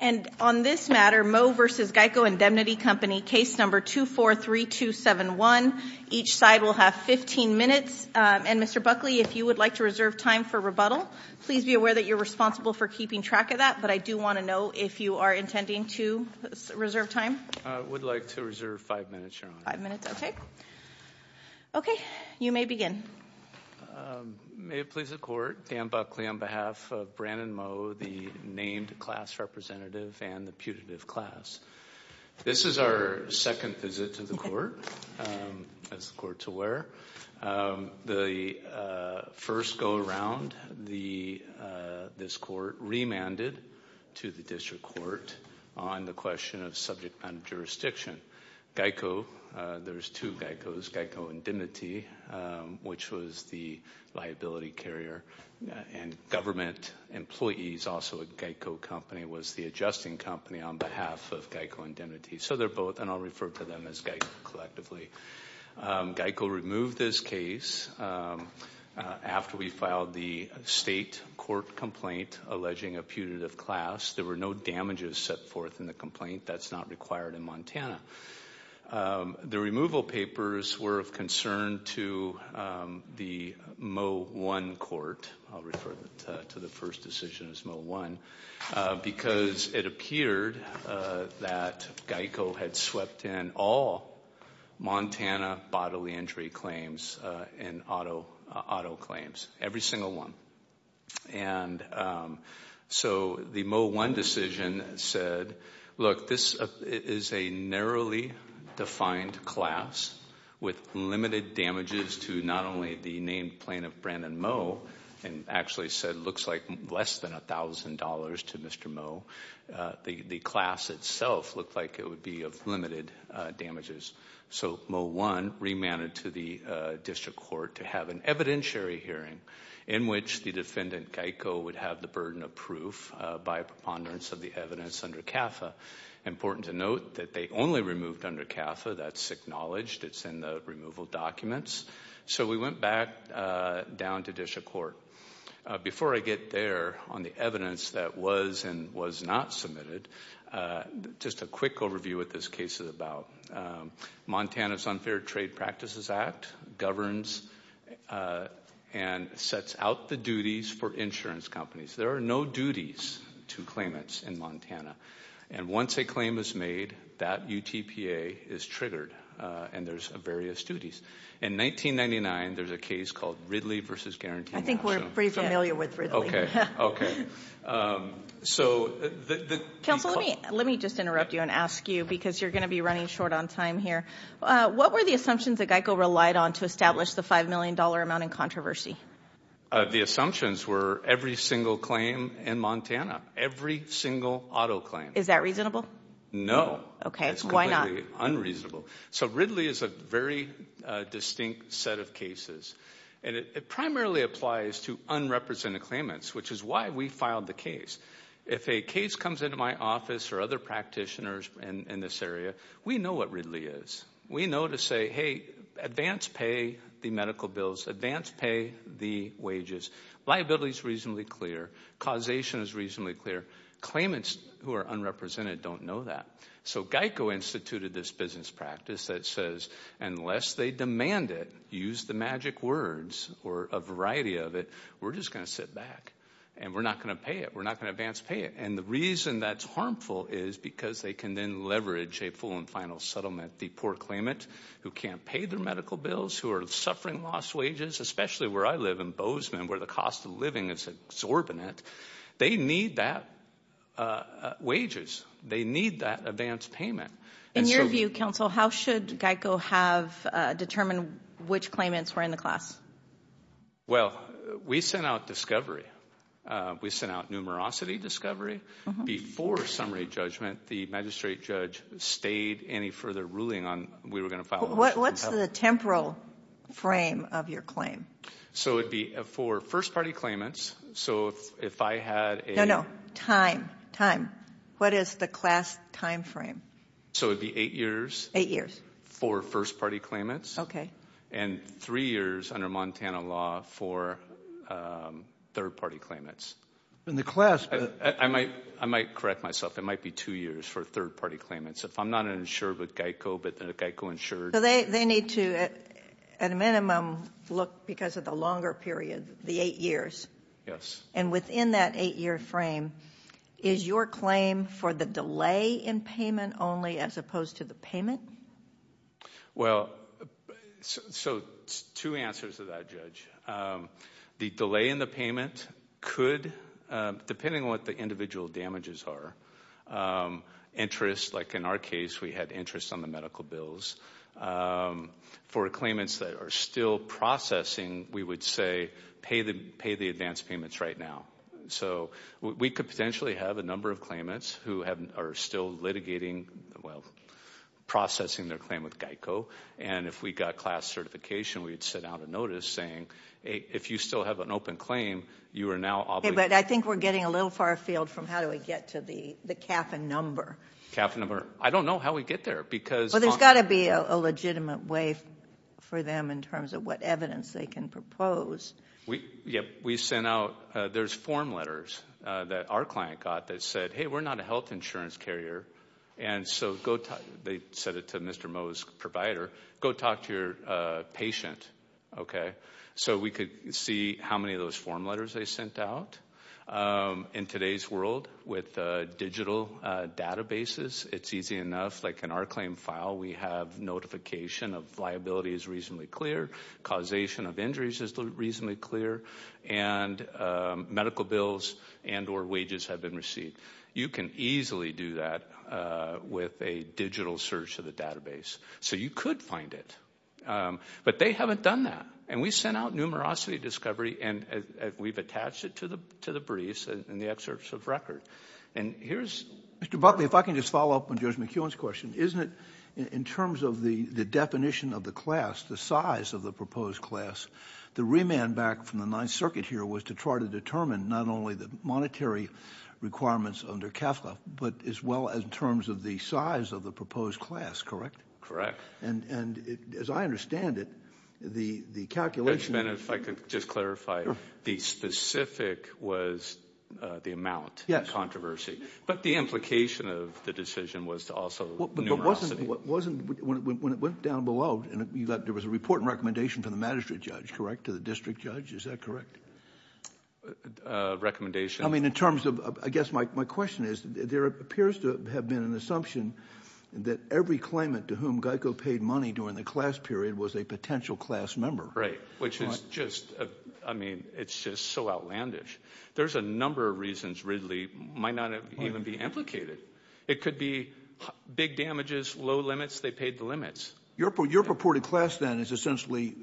And on this matter, Moe v. GEICO Indemnity Company, case number 243271. Each side will have 15 minutes. And Mr. Buckley, if you would like to reserve time for rebuttal, please be aware that you're responsible for keeping track of that. But I do want to know if you are intending to reserve time. I would like to reserve five minutes, Your Honor. Five minutes, OK. OK, you may begin. May it please the Court, Dan Buckley on behalf of Brandon Moe, the named class representative and the putative class. This is our second visit to the court, as the court's aware. The first go around, this court remanded to the district court on the question of subject matter jurisdiction. GEICO, there's two GEICOs, GEICO Indemnity, which was the liability carrier. And government employees, also a GEICO company, was the adjusting company on behalf of GEICO Indemnity. So they're both, and I'll refer to them as GEICO collectively. GEICO removed this case after we filed the state court complaint alleging a putative class. There were no damages set forth in the complaint. That's not required in Montana. The removal papers were of concern to the Moe 1 court. I'll refer to the first decision as Moe 1, because it appeared that GEICO had swept in all Montana bodily injury claims and auto claims, every single one. And so the Moe 1 decision said, look, this is a narrowly defined class with limited damages to not only the named plaintiff, Brandon Moe, and actually said it looks like less than $1,000 to Mr. Moe. The class itself looked like it would be of limited damages. So Moe 1 remanded to the district court to have an evidentiary hearing in which the defendant, GEICO, would have the burden of proof by preponderance of the evidence under CAFA. Important to note that they only removed under CAFA. That's acknowledged. It's in the removal documents. So we went back down to district court. Before I get there on the evidence that was and was not submitted, just a quick overview what this case is about. Montana's Unfair Trade Practices Act governs and sets out the duties for insurance companies. There are no duties to claimants in Montana. And once a claim is made, that UTPA is triggered. And there's various duties. In 1999, there's a case called Ridley versus Guarantee. I think we're pretty familiar with Ridley. So the- Counsel, let me just interrupt you and ask you, because you're going to be running short on time here. What were the assumptions that GEICO relied on to establish the $5 million amount in controversy? The assumptions were every single claim in Montana. Every single auto claim. Is that reasonable? No. Okay, why not? So Ridley is a very distinct set of cases. And it primarily applies to unrepresented claimants, which is why we filed the case. If a case comes into my office or other practitioners in this area, we know what Ridley is. We know to say, hey, advance pay the medical bills, advance pay the wages. Liability is reasonably clear. Causation is reasonably clear. Claimants who are unrepresented don't know that. So GEICO instituted this business practice that says, unless they demand it, use the magic words, or a variety of it, we're just going to sit back. And we're not going to pay it. We're not going to advance pay it. And the reason that's harmful is because they can then leverage a full and final settlement. The poor claimant who can't pay their medical bills, who are suffering lost wages, especially where I live in Bozeman, where the cost of living is exorbitant, they need that wages. They need that advance payment. In your view, counsel, how should GEICO have determined which claimants were in the class? Well, we sent out discovery. We sent out numerosity discovery. Before summary judgment, the magistrate judge stayed any further ruling on, we were going to file. What's the temporal frame of your claim? So it'd be for first party claimants. So if I had a- No, no, time, time. What is the class timeframe? So it'd be eight years- Eight years. For first party claimants. Okay. And three years under Montana law for third party claimants. In the class- I might correct myself. It might be two years for third party claimants. If I'm not insured with GEICO, but the GEICO insured- So they need to, at a minimum, look, because of the longer period, the eight years. Yes. And within that eight year frame, is your claim for the delay in payment only as opposed to the payment? Well, so two answers to that, Judge. The delay in the payment could, depending on what the individual damages are, interest, like in our case, we had interest on the medical bills. For claimants that are still processing, we would say, pay the advance payments right now. So we could potentially have a number of claimants who are still litigating, well, processing their claim with GEICO. And if we got class certification, we'd send out a notice saying, if you still have an open claim, you are now obligated- Okay, but I think we're getting a little far afield from how do we get to the cap and number. Cap and number. I don't know how we get there, because- Well, there's gotta be a legitimate way for them in terms of what evidence they can propose. Yep, we sent out, there's form letters that our client got that said, hey, we're not a health insurance carrier. And so they said it to Mr. Moe's provider, go talk to your patient, okay? So we could see how many of those form letters they sent out. In today's world, with digital databases, it's easy enough, like in our claim file, we have notification of liability is reasonably clear, causation of injuries is reasonably clear, and medical bills and or wages have been received. You can easily do that with a digital search of the database. So you could find it, but they haven't done that. And we sent out numerosity discovery, and we've attached it to the briefs and the excerpts of record. And here's- Mr. Buckley, if I can just follow up on Judge McEwen's question, isn't it, in terms of the definition of the class, the size of the proposed class, the remand back from the Ninth Circuit here was to try to determine not only the monetary requirements under CAFLA, but as well as in terms of the size of the proposed class, correct? Correct. And as I understand it, the calculation- Judge Bennett, if I could just clarify, the specific was the amount of controversy. But the implication of the decision was to also numerosity. When it went down below, there was a report and recommendation from the magistrate judge, correct? To the district judge, is that correct? Recommendation. I mean, in terms of, I guess my question is, there appears to have been an assumption that every claimant to whom GEICO paid money during the class period was a potential class member. Right, which is just, I mean, it's just so outlandish. There's a number of reasons Ridley might not even be implicated. It could be big damages, low limits, they paid the limits. Your purported class then is essentially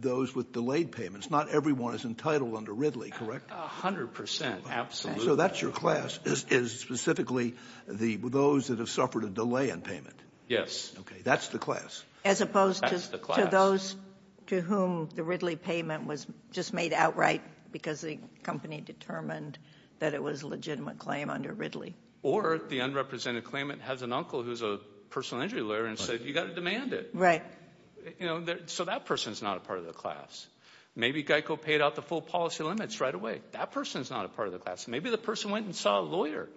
those with delayed payments. Not everyone is entitled under Ridley, correct? 100%, absolutely. So that's your class, is specifically those that have suffered a delay in payment? Yes. Okay, that's the class. As opposed to those to whom the Ridley payment was just made outright because the company determined that it was a legitimate claim under Ridley. Or the unrepresented claimant has an uncle who's a personal injury lawyer and said, you gotta demand it. Right. So that person's not a part of the class. Maybe GEICO paid out the full policy limits right away. That person's not a part of the class. Maybe the person went and saw a lawyer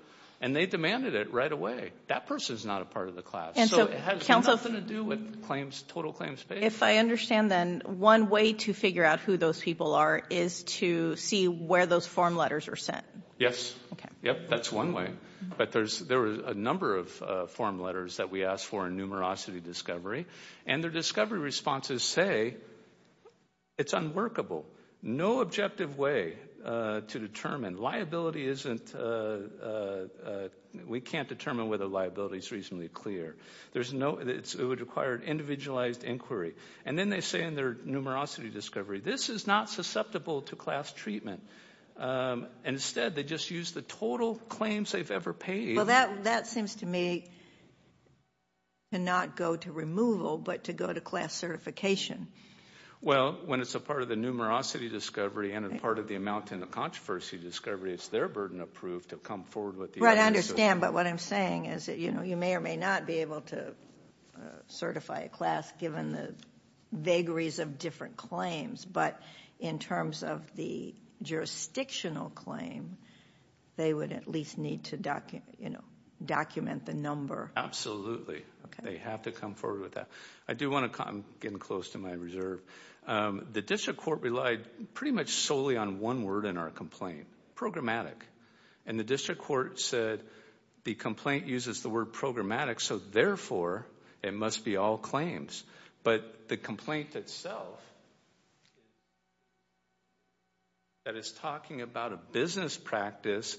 and they demanded it right away. That person's not a part of the class. So it has nothing to do with claims, total claims paid. If I understand then, one way to figure out who those people are is to see where those form letters are sent. Yep, that's one way. But there was a number of form letters that we asked for in numerosity discovery. And their discovery responses say, it's unworkable. No objective way to determine. Liability isn't, we can't determine whether liability's reasonably clear. There's no, it would require an individualized inquiry. And then they say in their numerosity discovery, this is not susceptible to class treatment. And instead, they just use the total claims they've ever paid. Well, that seems to me to not go to removal, but to go to class certification. Well, when it's a part of the numerosity discovery and a part of the amount in the controversy discovery, it's their burden of proof to come forward with the evidence. Right, I understand. But what I'm saying is that, you know, you may or may not be able to certify a class given the vagaries of different claims. But in terms of the jurisdictional claim, they would at least need to document the number. Absolutely. They have to come forward with that. I do want to, I'm getting close to my reserve. The district court relied pretty much solely on one word in our complaint, programmatic. And the district court said, the complaint uses the word programmatic, so therefore, it must be all claims. But the complaint itself, that is talking about a business practice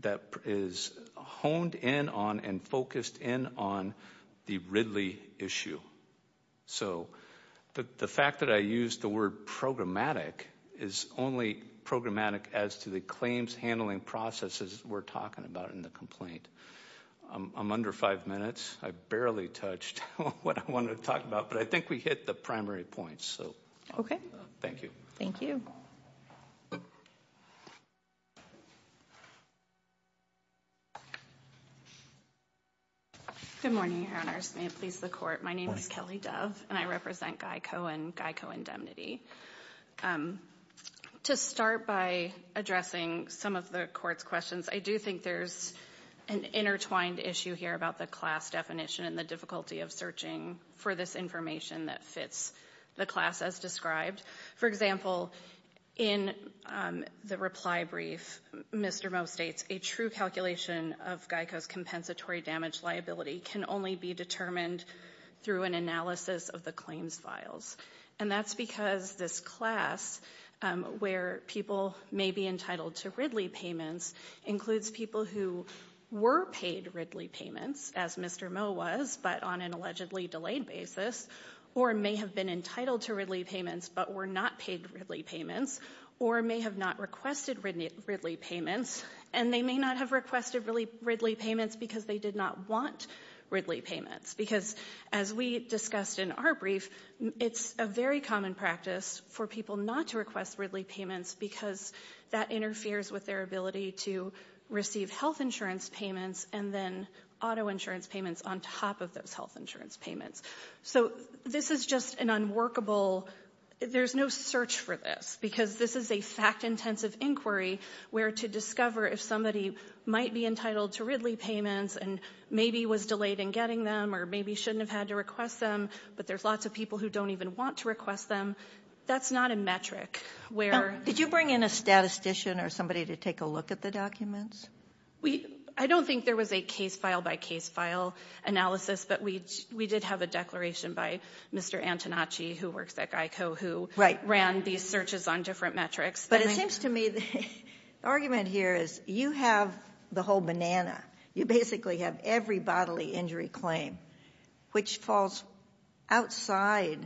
that is honed in on and focused in on the Ridley issue. So the fact that I used the word programmatic is only programmatic as to the claims handling processes we're talking about in the complaint. I'm under five minutes. I barely touched what I wanted to talk about, but I think we hit the primary points, so. Thank you. Thank you. Good morning, Your Honors. May it please the court. My name is Kelly Dove, and I represent Guy Cohen, Guy Cohen Demnity. To start by addressing some of the court's questions, I do think there's an intertwined issue here about the class definition and the difficulty of searching for this information that fits the class as described. For example, in the reply brief, Mr. Moe states, a true calculation of GEICO's compensatory damage liability can only be determined through an analysis of the claims files. And that's because this class, where people may be entitled to Ridley payments, includes people who were paid Ridley payments, as Mr. Moe was, but on an allegedly delayed basis, or may have been entitled to Ridley payments but were not paid Ridley payments, or may have not requested Ridley payments, and they may not have requested Ridley payments because they did not want Ridley payments. Because as we discussed in our brief, it's a very common practice for people not to request Ridley payments because that interferes with their ability to receive health insurance payments and then auto insurance payments on top of those health insurance payments. So this is just an unworkable, there's no search for this because this is a fact-intensive inquiry where to discover if somebody might be entitled to Ridley payments and maybe was delayed in getting them, or maybe shouldn't have had to request them, but there's lots of people who don't even want to request them, that's not a metric where. Did you bring in a statistician or somebody to take a look at the documents? We, I don't think there was a case file by case file analysis, but we did have a declaration by Mr. Antonacci who works at GEICO who ran these searches on different metrics. But it seems to me the argument here is you have the whole banana. You basically have every bodily injury claim, which falls outside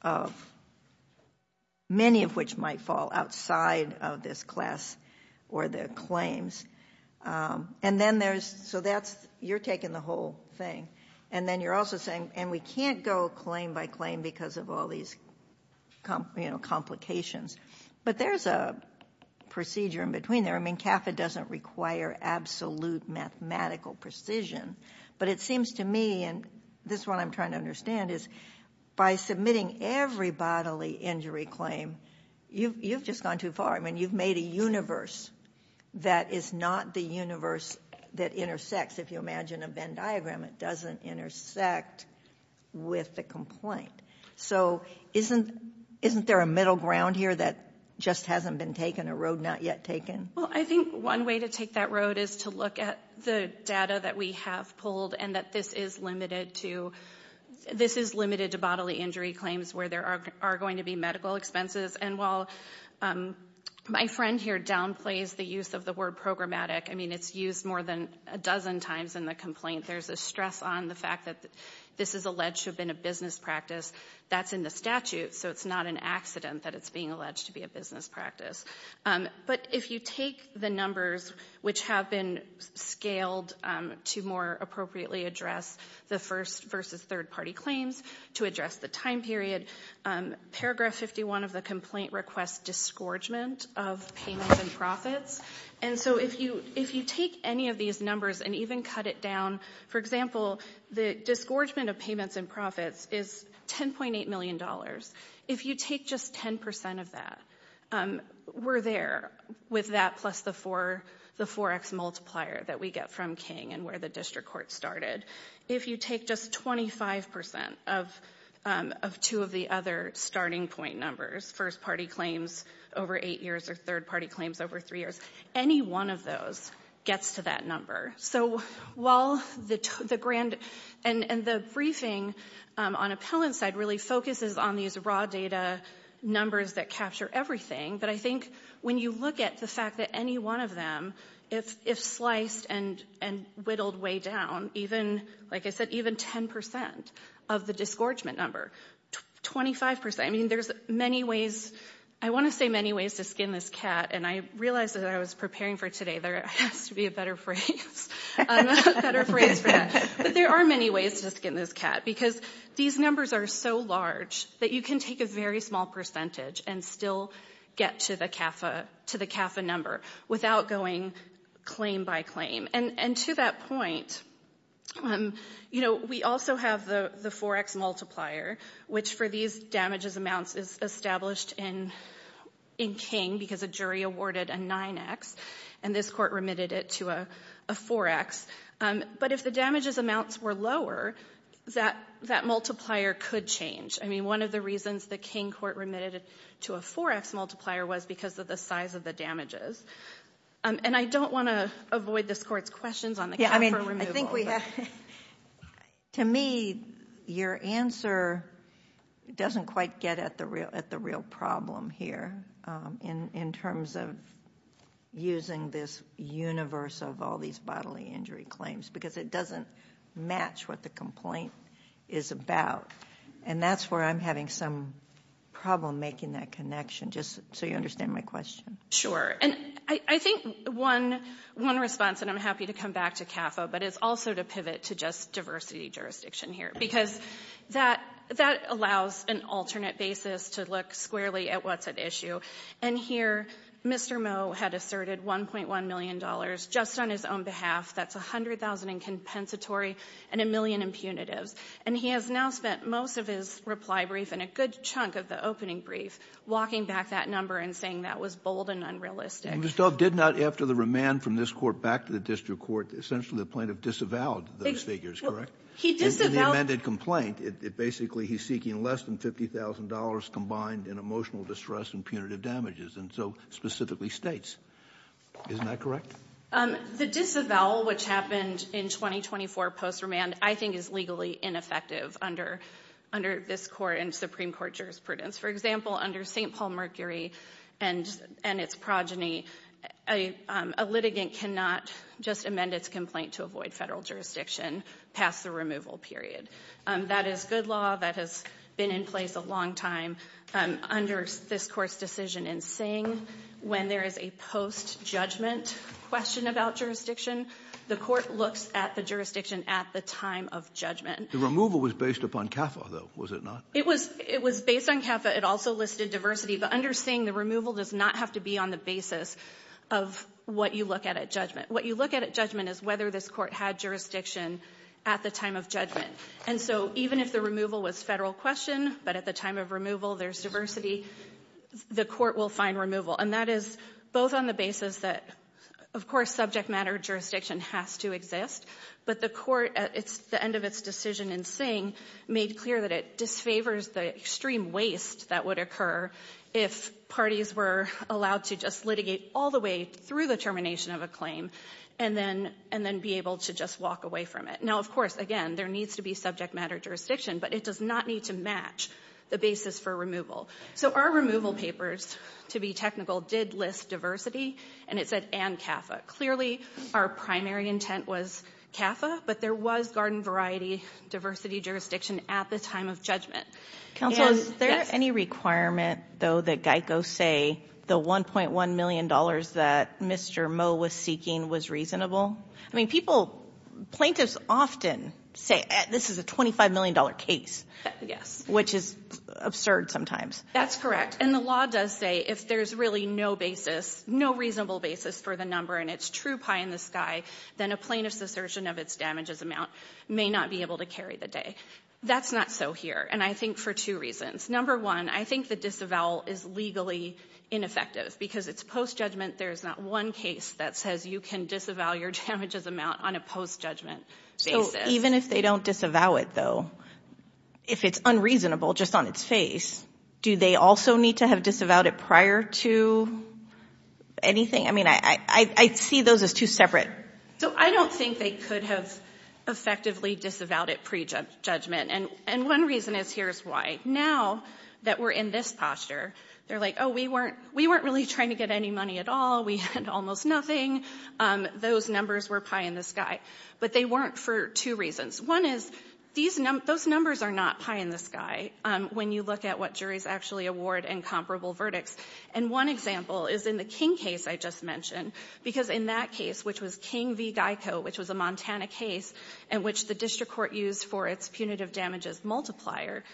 of, many of which might fall outside of this class or the claims. And then there's, so that's, you're taking the whole thing. And then you're also saying, and we can't go claim by claim because of all these complications. But there's a procedure in between there. I mean, CAFA doesn't require absolute mathematical precision. But it seems to me, and this is what I'm trying to understand, is by submitting every bodily injury claim, you've just gone too far. I mean, you've made a universe that is not the universe that intersects. If you imagine a Venn diagram, it doesn't intersect with the complaint. So isn't there a middle ground here that just hasn't been taken, a road not yet taken? Well, I think one way to take that road is to look at the data that we have pulled and that this is limited to, this is limited to bodily injury claims where there are going to be medical expenses. And while my friend here downplays the use of the word programmatic, I mean, it's used more than a dozen times in the complaint. There's a stress on the fact that this is alleged to have been a business practice. That's in the statute. So it's not an accident that it's being alleged to be a business practice. But if you take the numbers which have been scaled to more appropriately address the first versus third party claims to address the time period, paragraph 51 of the complaint requests disgorgement of payments and profits. And so if you take any of these numbers and even cut it down, for example, the disgorgement of payments and profits is $10.8 million. If you take just 10% of that, we're there with that plus the 4x multiplier that we get from King and where the district court started. If you take just 25% of two of the other starting point numbers, first party claims over eight years or third party claims over three years, any one of those gets to that number. So while the grand, and the briefing on appellant side really focuses on these raw data numbers that capture everything. But I think when you look at the fact that any one of them, if sliced and whittled way down, like I said, even 10% of the disgorgement number, 25%, I mean, there's many ways. I wanna say many ways to skin this cat and I realized that I was preparing for today. There has to be a better phrase. A better phrase for that. But there are many ways to skin this cat because these numbers are so large that you can take a very small percentage and still get to the CAFA number without going claim by claim. And to that point, you know, we also have the 4x multiplier, which for these damages amounts is established in King because a jury awarded a 9x and this court remitted it to a 4x. But if the damages amounts were lower, that multiplier could change. I mean, one of the reasons the King court remitted to a 4x multiplier was because of the size of the damages. And I don't wanna avoid this court's questions on the CAFA removal. Yeah, I mean, I think we have... To me, your answer doesn't quite get at the real problem here in terms of using this universe of all these bodily injury claims because it doesn't match what the complaint is about. And that's where I'm having some problem making that connection, just so you understand my question. Sure, and I think one response, and I'm happy to come back to CAFA, but it's also to pivot to just diversity jurisdiction here because that allows an alternate basis to look squarely at what's at issue. And here, Mr. Moe had asserted $1.1 million just on his own behalf. That's 100,000 in compensatory and a million in punitives. And he has now spent most of his reply brief and a good chunk of the opening brief walking back that number and saying that was bold and unrealistic. Mr. Dove did not, after the remand from this court back to the district court, essentially the plaintiff disavowed those figures, correct? He disavowed- In the amended complaint, basically he's seeking less than $50,000 combined in emotional distress and punitive damages, and so specifically states. Isn't that correct? The disavowal, which happened in 2024 post-remand, I think is legally ineffective under this court and Supreme Court jurisprudence. For example, under St. Paul Mercury and its progeny, a litigant cannot just amend its complaint to avoid federal jurisdiction past the removal period. That is good law that has been in place a long time under this court's decision in Singh. When there is a post-judgment question about jurisdiction, the court looks at the jurisdiction at the time of judgment. The removal was based upon CAFA, though, was it not? It was based on CAFA. It also listed diversity, but under Singh, the removal does not have to be on the basis of what you look at at judgment. What you look at at judgment is whether this court had jurisdiction at the time of judgment, and so even if the removal was federal question, but at the time of removal, there's diversity, the court will find removal, and that is both on the basis that, of course, subject matter jurisdiction has to exist, but the court, at the end of its decision in Singh, made clear that it disfavors the extreme waste that would occur if parties were allowed to just litigate all the way through the termination of a claim and then be able to just walk away from it. Now, of course, again, there needs to be subject matter jurisdiction, but it does not need to match the basis for removal. So our removal papers, to be technical, did list diversity, and it said, and CAFA. Clearly, our primary intent was CAFA, but there was garden variety diversity jurisdiction at the time of judgment. Counsel, is there any requirement, though, that GEICO say the $1.1 million that Mr. Moe was seeking was reasonable? I mean, people, plaintiffs often say, this is a $25 million case, which is absurd sometimes. That's correct, and the law does say if there's really no basis, no reasonable basis for the number, and it's true pie in the sky, then a plaintiff's assertion of its damages amount may not be able to carry the day. That's not so here, and I think for two reasons. Number one, I think the disavowal is legally ineffective because it's post-judgment, there's not one case that says you can disavow your damages amount on a post-judgment basis. Even if they don't disavow it, though, if it's unreasonable just on its face, do they also need to have disavowed it prior to anything? I mean, I see those as two separate. So I don't think they could have effectively disavowed it pre-judgment, and one reason is, here's why. Now that we're in this posture, they're like, oh, we weren't really trying to get any money at all, we had almost nothing. Those numbers were pie in the sky, but they weren't for two reasons. One is, those numbers are not pie in the sky when you look at what juries actually award in comparable verdicts, and one example is in the King case I just mentioned, because in that case, which was King v. Geico, which was a Montana case in which the district court used for its punitive damages multiplier,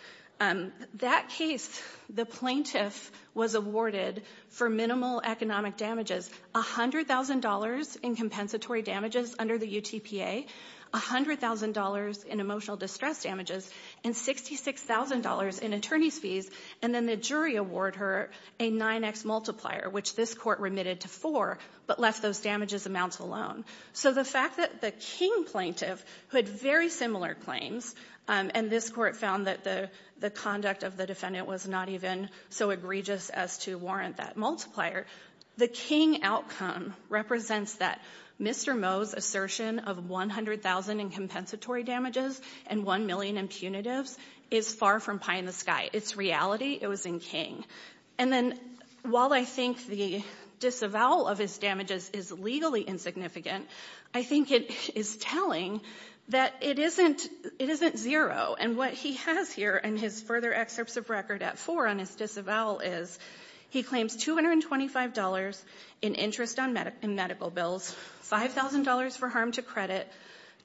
that case, the plaintiff was awarded for minimal economic damages $100,000 in compensatory damages under the UTPA, $100,000 in emotional distress damages, and $66,000 in attorney's fees, and then the jury award her a 9X multiplier, which this court remitted to four, but left those damages amounts alone. So the fact that the King plaintiff who had very similar claims, and this court found that the conduct of the defendant was not even so egregious as to warrant that multiplier, the King outcome represents that Mr. Moe's assertion of 100,000 in compensatory damages and one million in punitives is far from pie in the sky. It's reality, it was in King. And then while I think the disavowal of his damages is legally insignificant, I think it is telling that it isn't zero. And what he has here in his further excerpts of record at four on his disavowal is he claims $225 in interest on medical bills, $5,000 for harm to credit,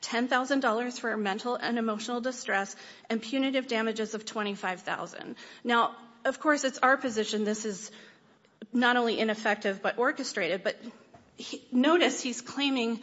$10,000 for mental and emotional distress, and punitive damages of 25,000. Now, of course, it's our position, this is not only ineffective but orchestrated, but notice he's claiming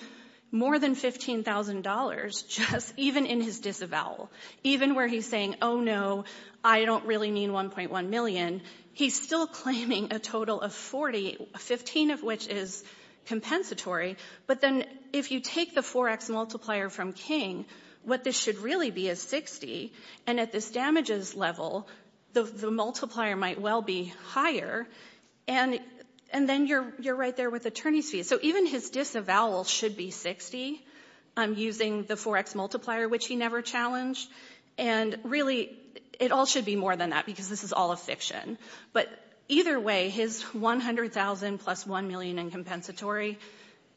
more than $15,000 just even in his disavowal. Even where he's saying, oh no, I don't really mean 1.1 million, he's still claiming a total of 40, 15 of which is compensatory. But then if you take the 4x multiplier from King, what this should really be is 60. And at this damages level, the multiplier might well be higher. And then you're right there with attorney's fees. So even his disavowal should be 60 using the 4x multiplier, which he never challenged. And really, it all should be more than that because this is all a fiction. But either way, his 100,000 plus 1 million in compensatory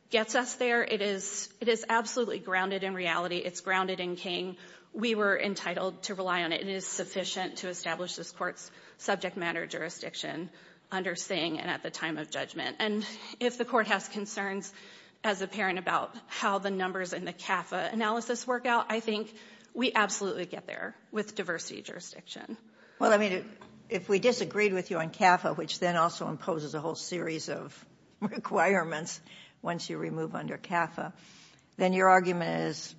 gets us there. It is absolutely grounded in reality, it's grounded in King. We were entitled to rely on it. It is sufficient to establish this court's subject matter jurisdiction under Singh and at the time of judgment. And if the court has concerns as a parent about how the numbers in the CAFA analysis work out, I think we absolutely get there with diversity jurisdiction. Well, I mean, if we disagreed with you on CAFA, which then also imposes a whole series of requirements once you remove under CAFA, then your argument is,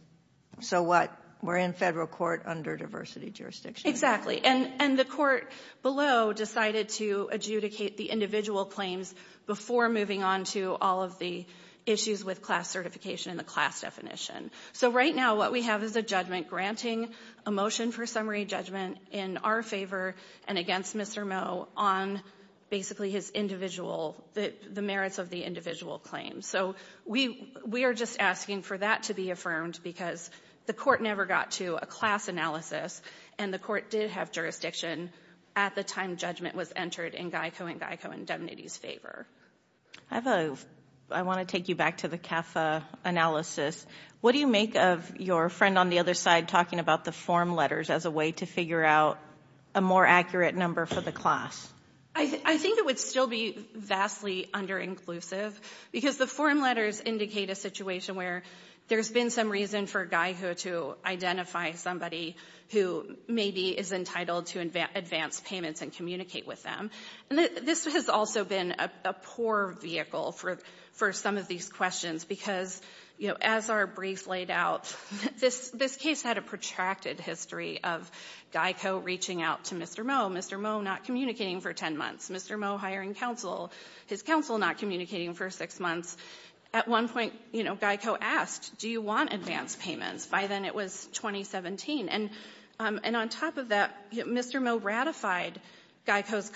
so what? We're in federal court under diversity jurisdiction. And the court below decided to adjudicate the individual claims before moving on to all of the issues with class certification and the class definition. So right now, what we have is a judgment granting a motion for summary judgment in our favor and against Mr. Moe on basically the merits of the individual claims. So we are just asking for that to be affirmed because the court never got to a class analysis and the court did have jurisdiction at the time judgment was entered in Geico and Geico indemnity's favor. I have a, I want to take you back to the CAFA analysis. What do you make of your friend on the other side talking about the form letters as a way to figure out a more accurate number for the class? I think it would still be vastly under inclusive because the form letters indicate a situation where there's been some reason for Geico to identify somebody who maybe is entitled to advance payments and communicate with them. And this has also been a poor vehicle for some of these questions because as our brief laid out, this case had a protracted history of Geico reaching out to Mr. Moe, Mr. Moe not communicating for 10 months, Mr. Moe hiring counsel, his counsel not communicating for six months. At one point Geico asked, do you want advance payments? By then it was 2017 and on top of that, Mr. Moe ratified Geico's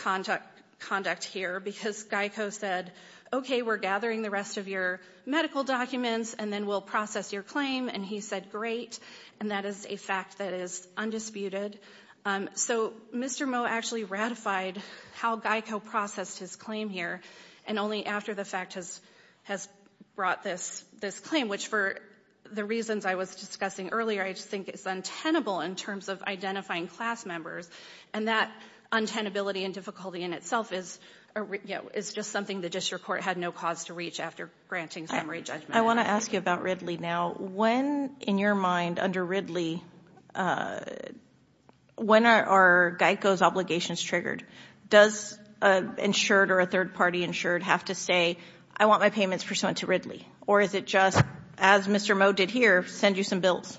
conduct here because Geico said, okay we're gathering the rest of your medical documents and then we'll process your claim and he said great and that is a fact that is undisputed. So Mr. Moe actually ratified how Geico processed his claim here and only after the fact has brought this claim which for the reasons I was discussing earlier, I just think it's untenable in terms of identifying class members and that untenability and difficulty in itself is just something the district court had no cause to reach after granting summary judgment. I wanna ask you about Ridley now. When in your mind under Ridley, when are Geico's obligations triggered? Does an insured or a third party insured have to say I want my payments pursuant to Ridley or is it just as Mr. Moe did here, send you some bills?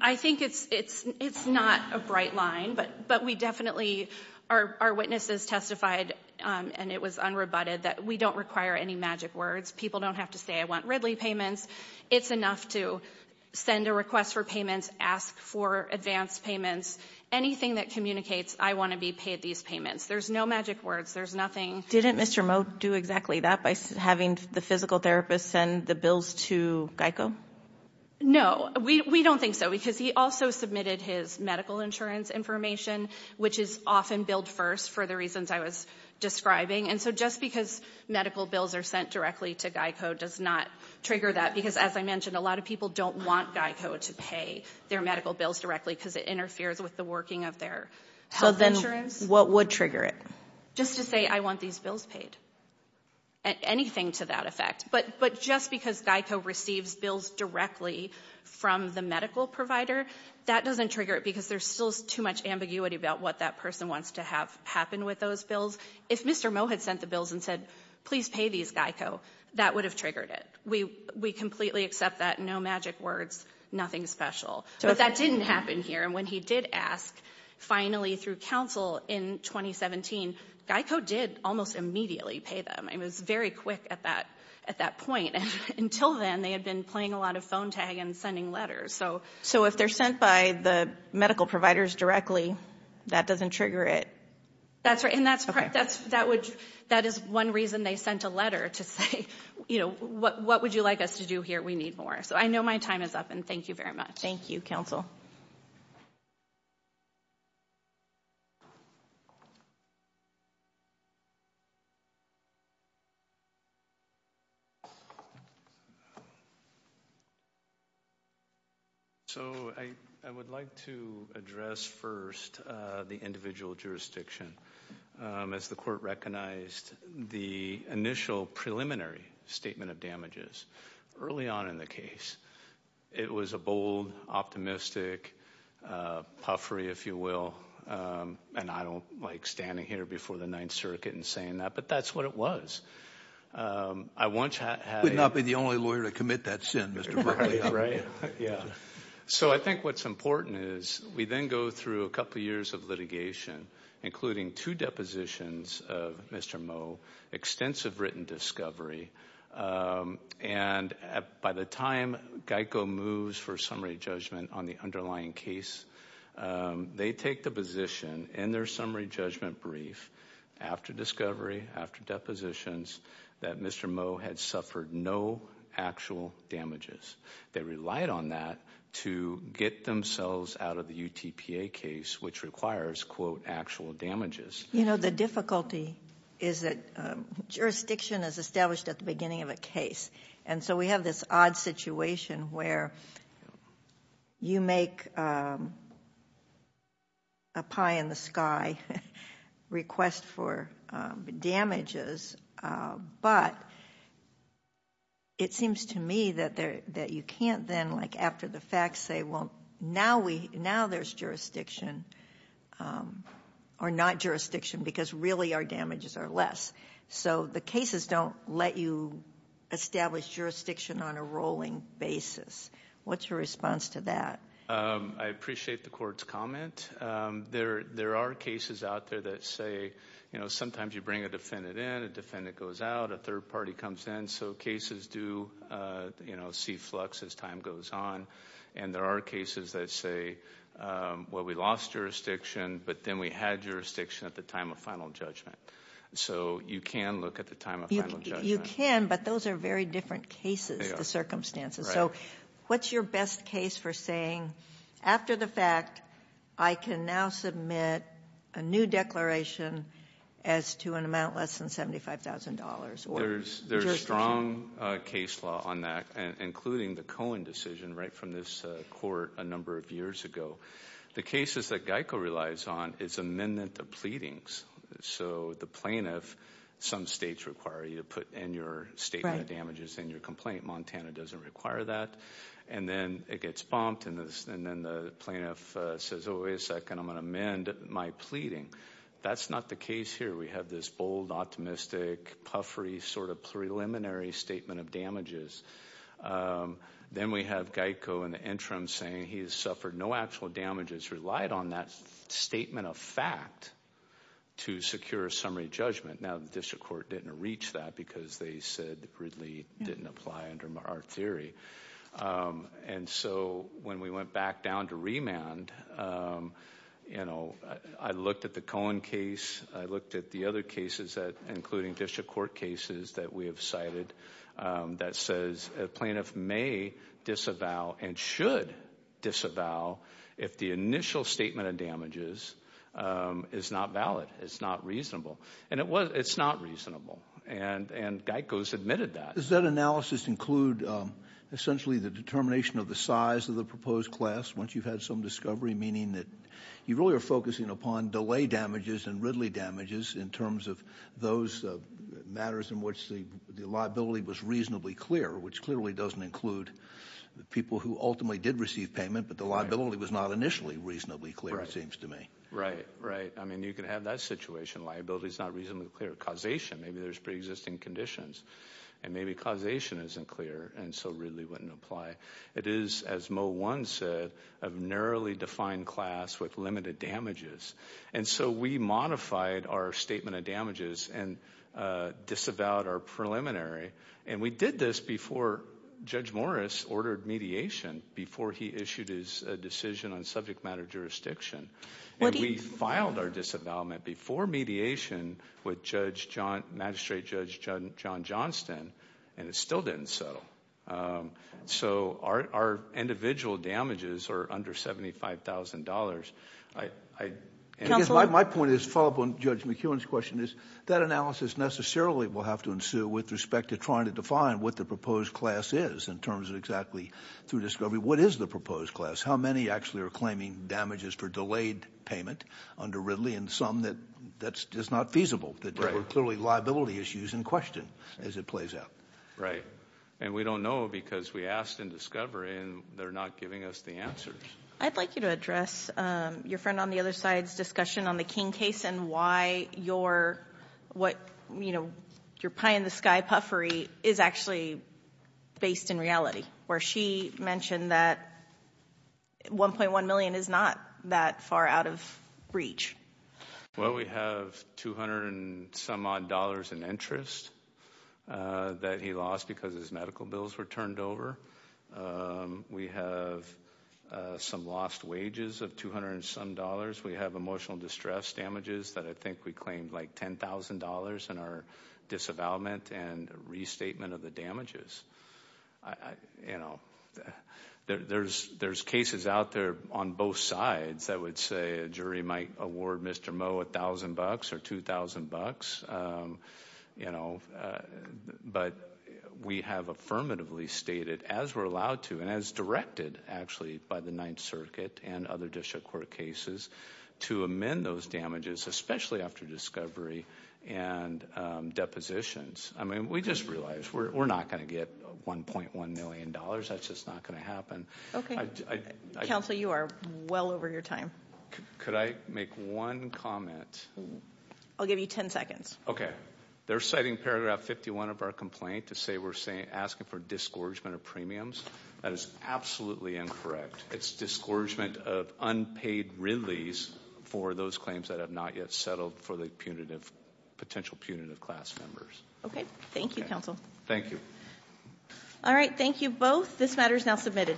I think it's not a bright line but we definitely, our witnesses testified and it was unrebutted that we don't require any magic words. People don't have to say I want Ridley payments. It's enough to send a request for payments, ask for advance payments. Anything that communicates I wanna be paid these payments. There's no magic words, there's nothing. Didn't Mr. Moe do exactly that by having the physical therapist send the bills to Geico? No, we don't think so because he also submitted his medical insurance information which is often billed first for the reasons I was describing and so just because medical bills are sent directly to Geico does not trigger that because as I mentioned, a lot of people don't want Geico to pay their medical bills directly because it interferes with the working of their health insurance. What would trigger it? Just to say I want these bills paid, anything to that effect but just because Geico receives bills directly from the medical provider, that doesn't trigger it because there's still too much ambiguity about what that person wants to have happen with those bills. If Mr. Moe had sent the bills and said, please pay these Geico, that would have triggered it. We completely accept that, no magic words, nothing special. But that didn't happen here and when he did ask finally through counsel in 2017, Geico did almost immediately pay them. It was very quick at that point and until then, they had been playing a lot of phone tag and sending letters. So if they're sent by the medical providers directly, that doesn't trigger it? That's right and that is one reason they sent a letter to say, what would you like us to do here? We need more. So I know my time is up and thank you very much. Thank you, counsel. So I would like to address first the individual jurisdiction as the court recognized the initial preliminary statement of damages early on in the case. It was a bold, optimistic puffery, if you will, and I don't like standing here before the Ninth Circuit and saying that, but that's what it was. I once had- You would not be the only lawyer to commit that sin, Mr. Berkley. Right, yeah. So I think what's important is we then go through a couple of years of litigation, including two depositions of Mr. Moe, extensive written discovery and by the time GEICO moves for summary judgment on the underlying case, they take the position in their summary judgment brief after discovery, after depositions, that Mr. Moe had suffered no actual damages. They relied on that to get themselves out of the UTPA case, which requires, quote, actual damages. You know, the difficulty is that jurisdiction is established at the beginning of a case and so we have this odd situation where you make a pie-in-the-sky request for damages, but it seems to me that you can't then, like after the facts, say, well, now there's jurisdiction or not jurisdiction because really our damages are less. So the cases don't let you establish jurisdiction on a rolling basis. What's your response to that? I appreciate the court's comment. There are cases out there that say, you know, sometimes you bring a defendant in, a defendant goes out, a third party comes in, so cases do, you know, see flux as time goes on and there are cases that say, well, we lost jurisdiction, but then we had jurisdiction at the time of final judgment. So you can look at the time of final judgment. You can, but those are very different cases, the circumstances. So what's your best case for saying, after the fact, I can now submit a new declaration as to an amount less than $75,000 or jurisdiction? There's strong case law on that, including the Cohen decision right from this court a number of years ago. The cases that GEICO relies on is amendment of pleadings. So the plaintiff, some states require you to put in your statement of damages in your complaint. Montana doesn't require that. And then it gets bumped and then the plaintiff says, oh, wait a second, I'm gonna amend my pleading. That's not the case here. We have this bold, optimistic, puffery, sort of preliminary statement of damages. Then we have GEICO in the interim saying he has suffered no actual damages and has relied on that statement of fact to secure a summary judgment. Now, the district court didn't reach that because they said Ridley didn't apply under our theory. And so when we went back down to remand, I looked at the Cohen case, I looked at the other cases, including district court cases that we have cited that says a plaintiff may disavow and should disavow if the initial statement of damages is not valid, it's not reasonable, and it's not reasonable. And GEICO submitted that. Does that analysis include essentially the determination of the size of the proposed class once you've had some discovery, meaning that you really are focusing upon delay damages and Ridley damages in terms of those matters in which the liability was reasonably clear, which clearly doesn't include the people who ultimately did receive payment, but the liability was not initially reasonably clear, it seems to me. Right, right. I mean, you can have that situation. Liability's not reasonably clear. Causation, maybe there's pre-existing conditions. And maybe causation isn't clear, and so Ridley wouldn't apply. It is, as Moe One said, of narrowly defined class with limited damages. And so we modified our statement of damages and disavowed our preliminary. And we did this before Judge Morris ordered mediation, before he issued his decision on subject matter jurisdiction. And we filed our disavowment before mediation with Judge John, Magistrate Judge John Johnston, and it still didn't settle. So our individual damages are under $75,000. I, I. Counselor. My point is, follow up on Judge McEwen's question, is that analysis necessarily will have to ensue with respect to trying to define what the proposed class is in terms of exactly, through discovery, what is the proposed class? How many actually are claiming damages for delayed payment under Ridley? And some that, that's just not feasible. That there were clearly liability issues in question as it plays out. Right. And we don't know because we asked in discovery, and they're not giving us the answers. I'd like you to address your friend on the other side's discussion on the King case and why your, what, you know, your pie in the sky puffery is actually based in reality, where she mentioned that 1.1 million is not that far out of reach. Well, we have 200 and some odd dollars in interest that he lost because his medical bills were turned over. We have some lost wages of 200 and some dollars. We have emotional distress damages that I think we claimed like $10,000 in our disavowalment and restatement of the damages. I, you know, there's cases out there on both sides that would say a jury might award Mr. Mo a thousand bucks or 2,000 bucks, you know, but we have affirmatively stated, as we're allowed to, and as directed actually by the Ninth Circuit and other district court cases, to amend those damages, especially after discovery and depositions. I mean, we just realized we're not gonna get $1.1 million. That's just not gonna happen. Counsel, you are well over your time. Could I make one comment? I'll give you 10 seconds. Okay. They're citing paragraph 51 of our complaint to say we're asking for disgorgement of premiums. That is absolutely incorrect. It's disgorgement of unpaid release for those claims that have not yet settled for the punitive, potential punitive class members. Okay, thank you, Counsel. Thank you. All right, thank you both. This matter is now submitted.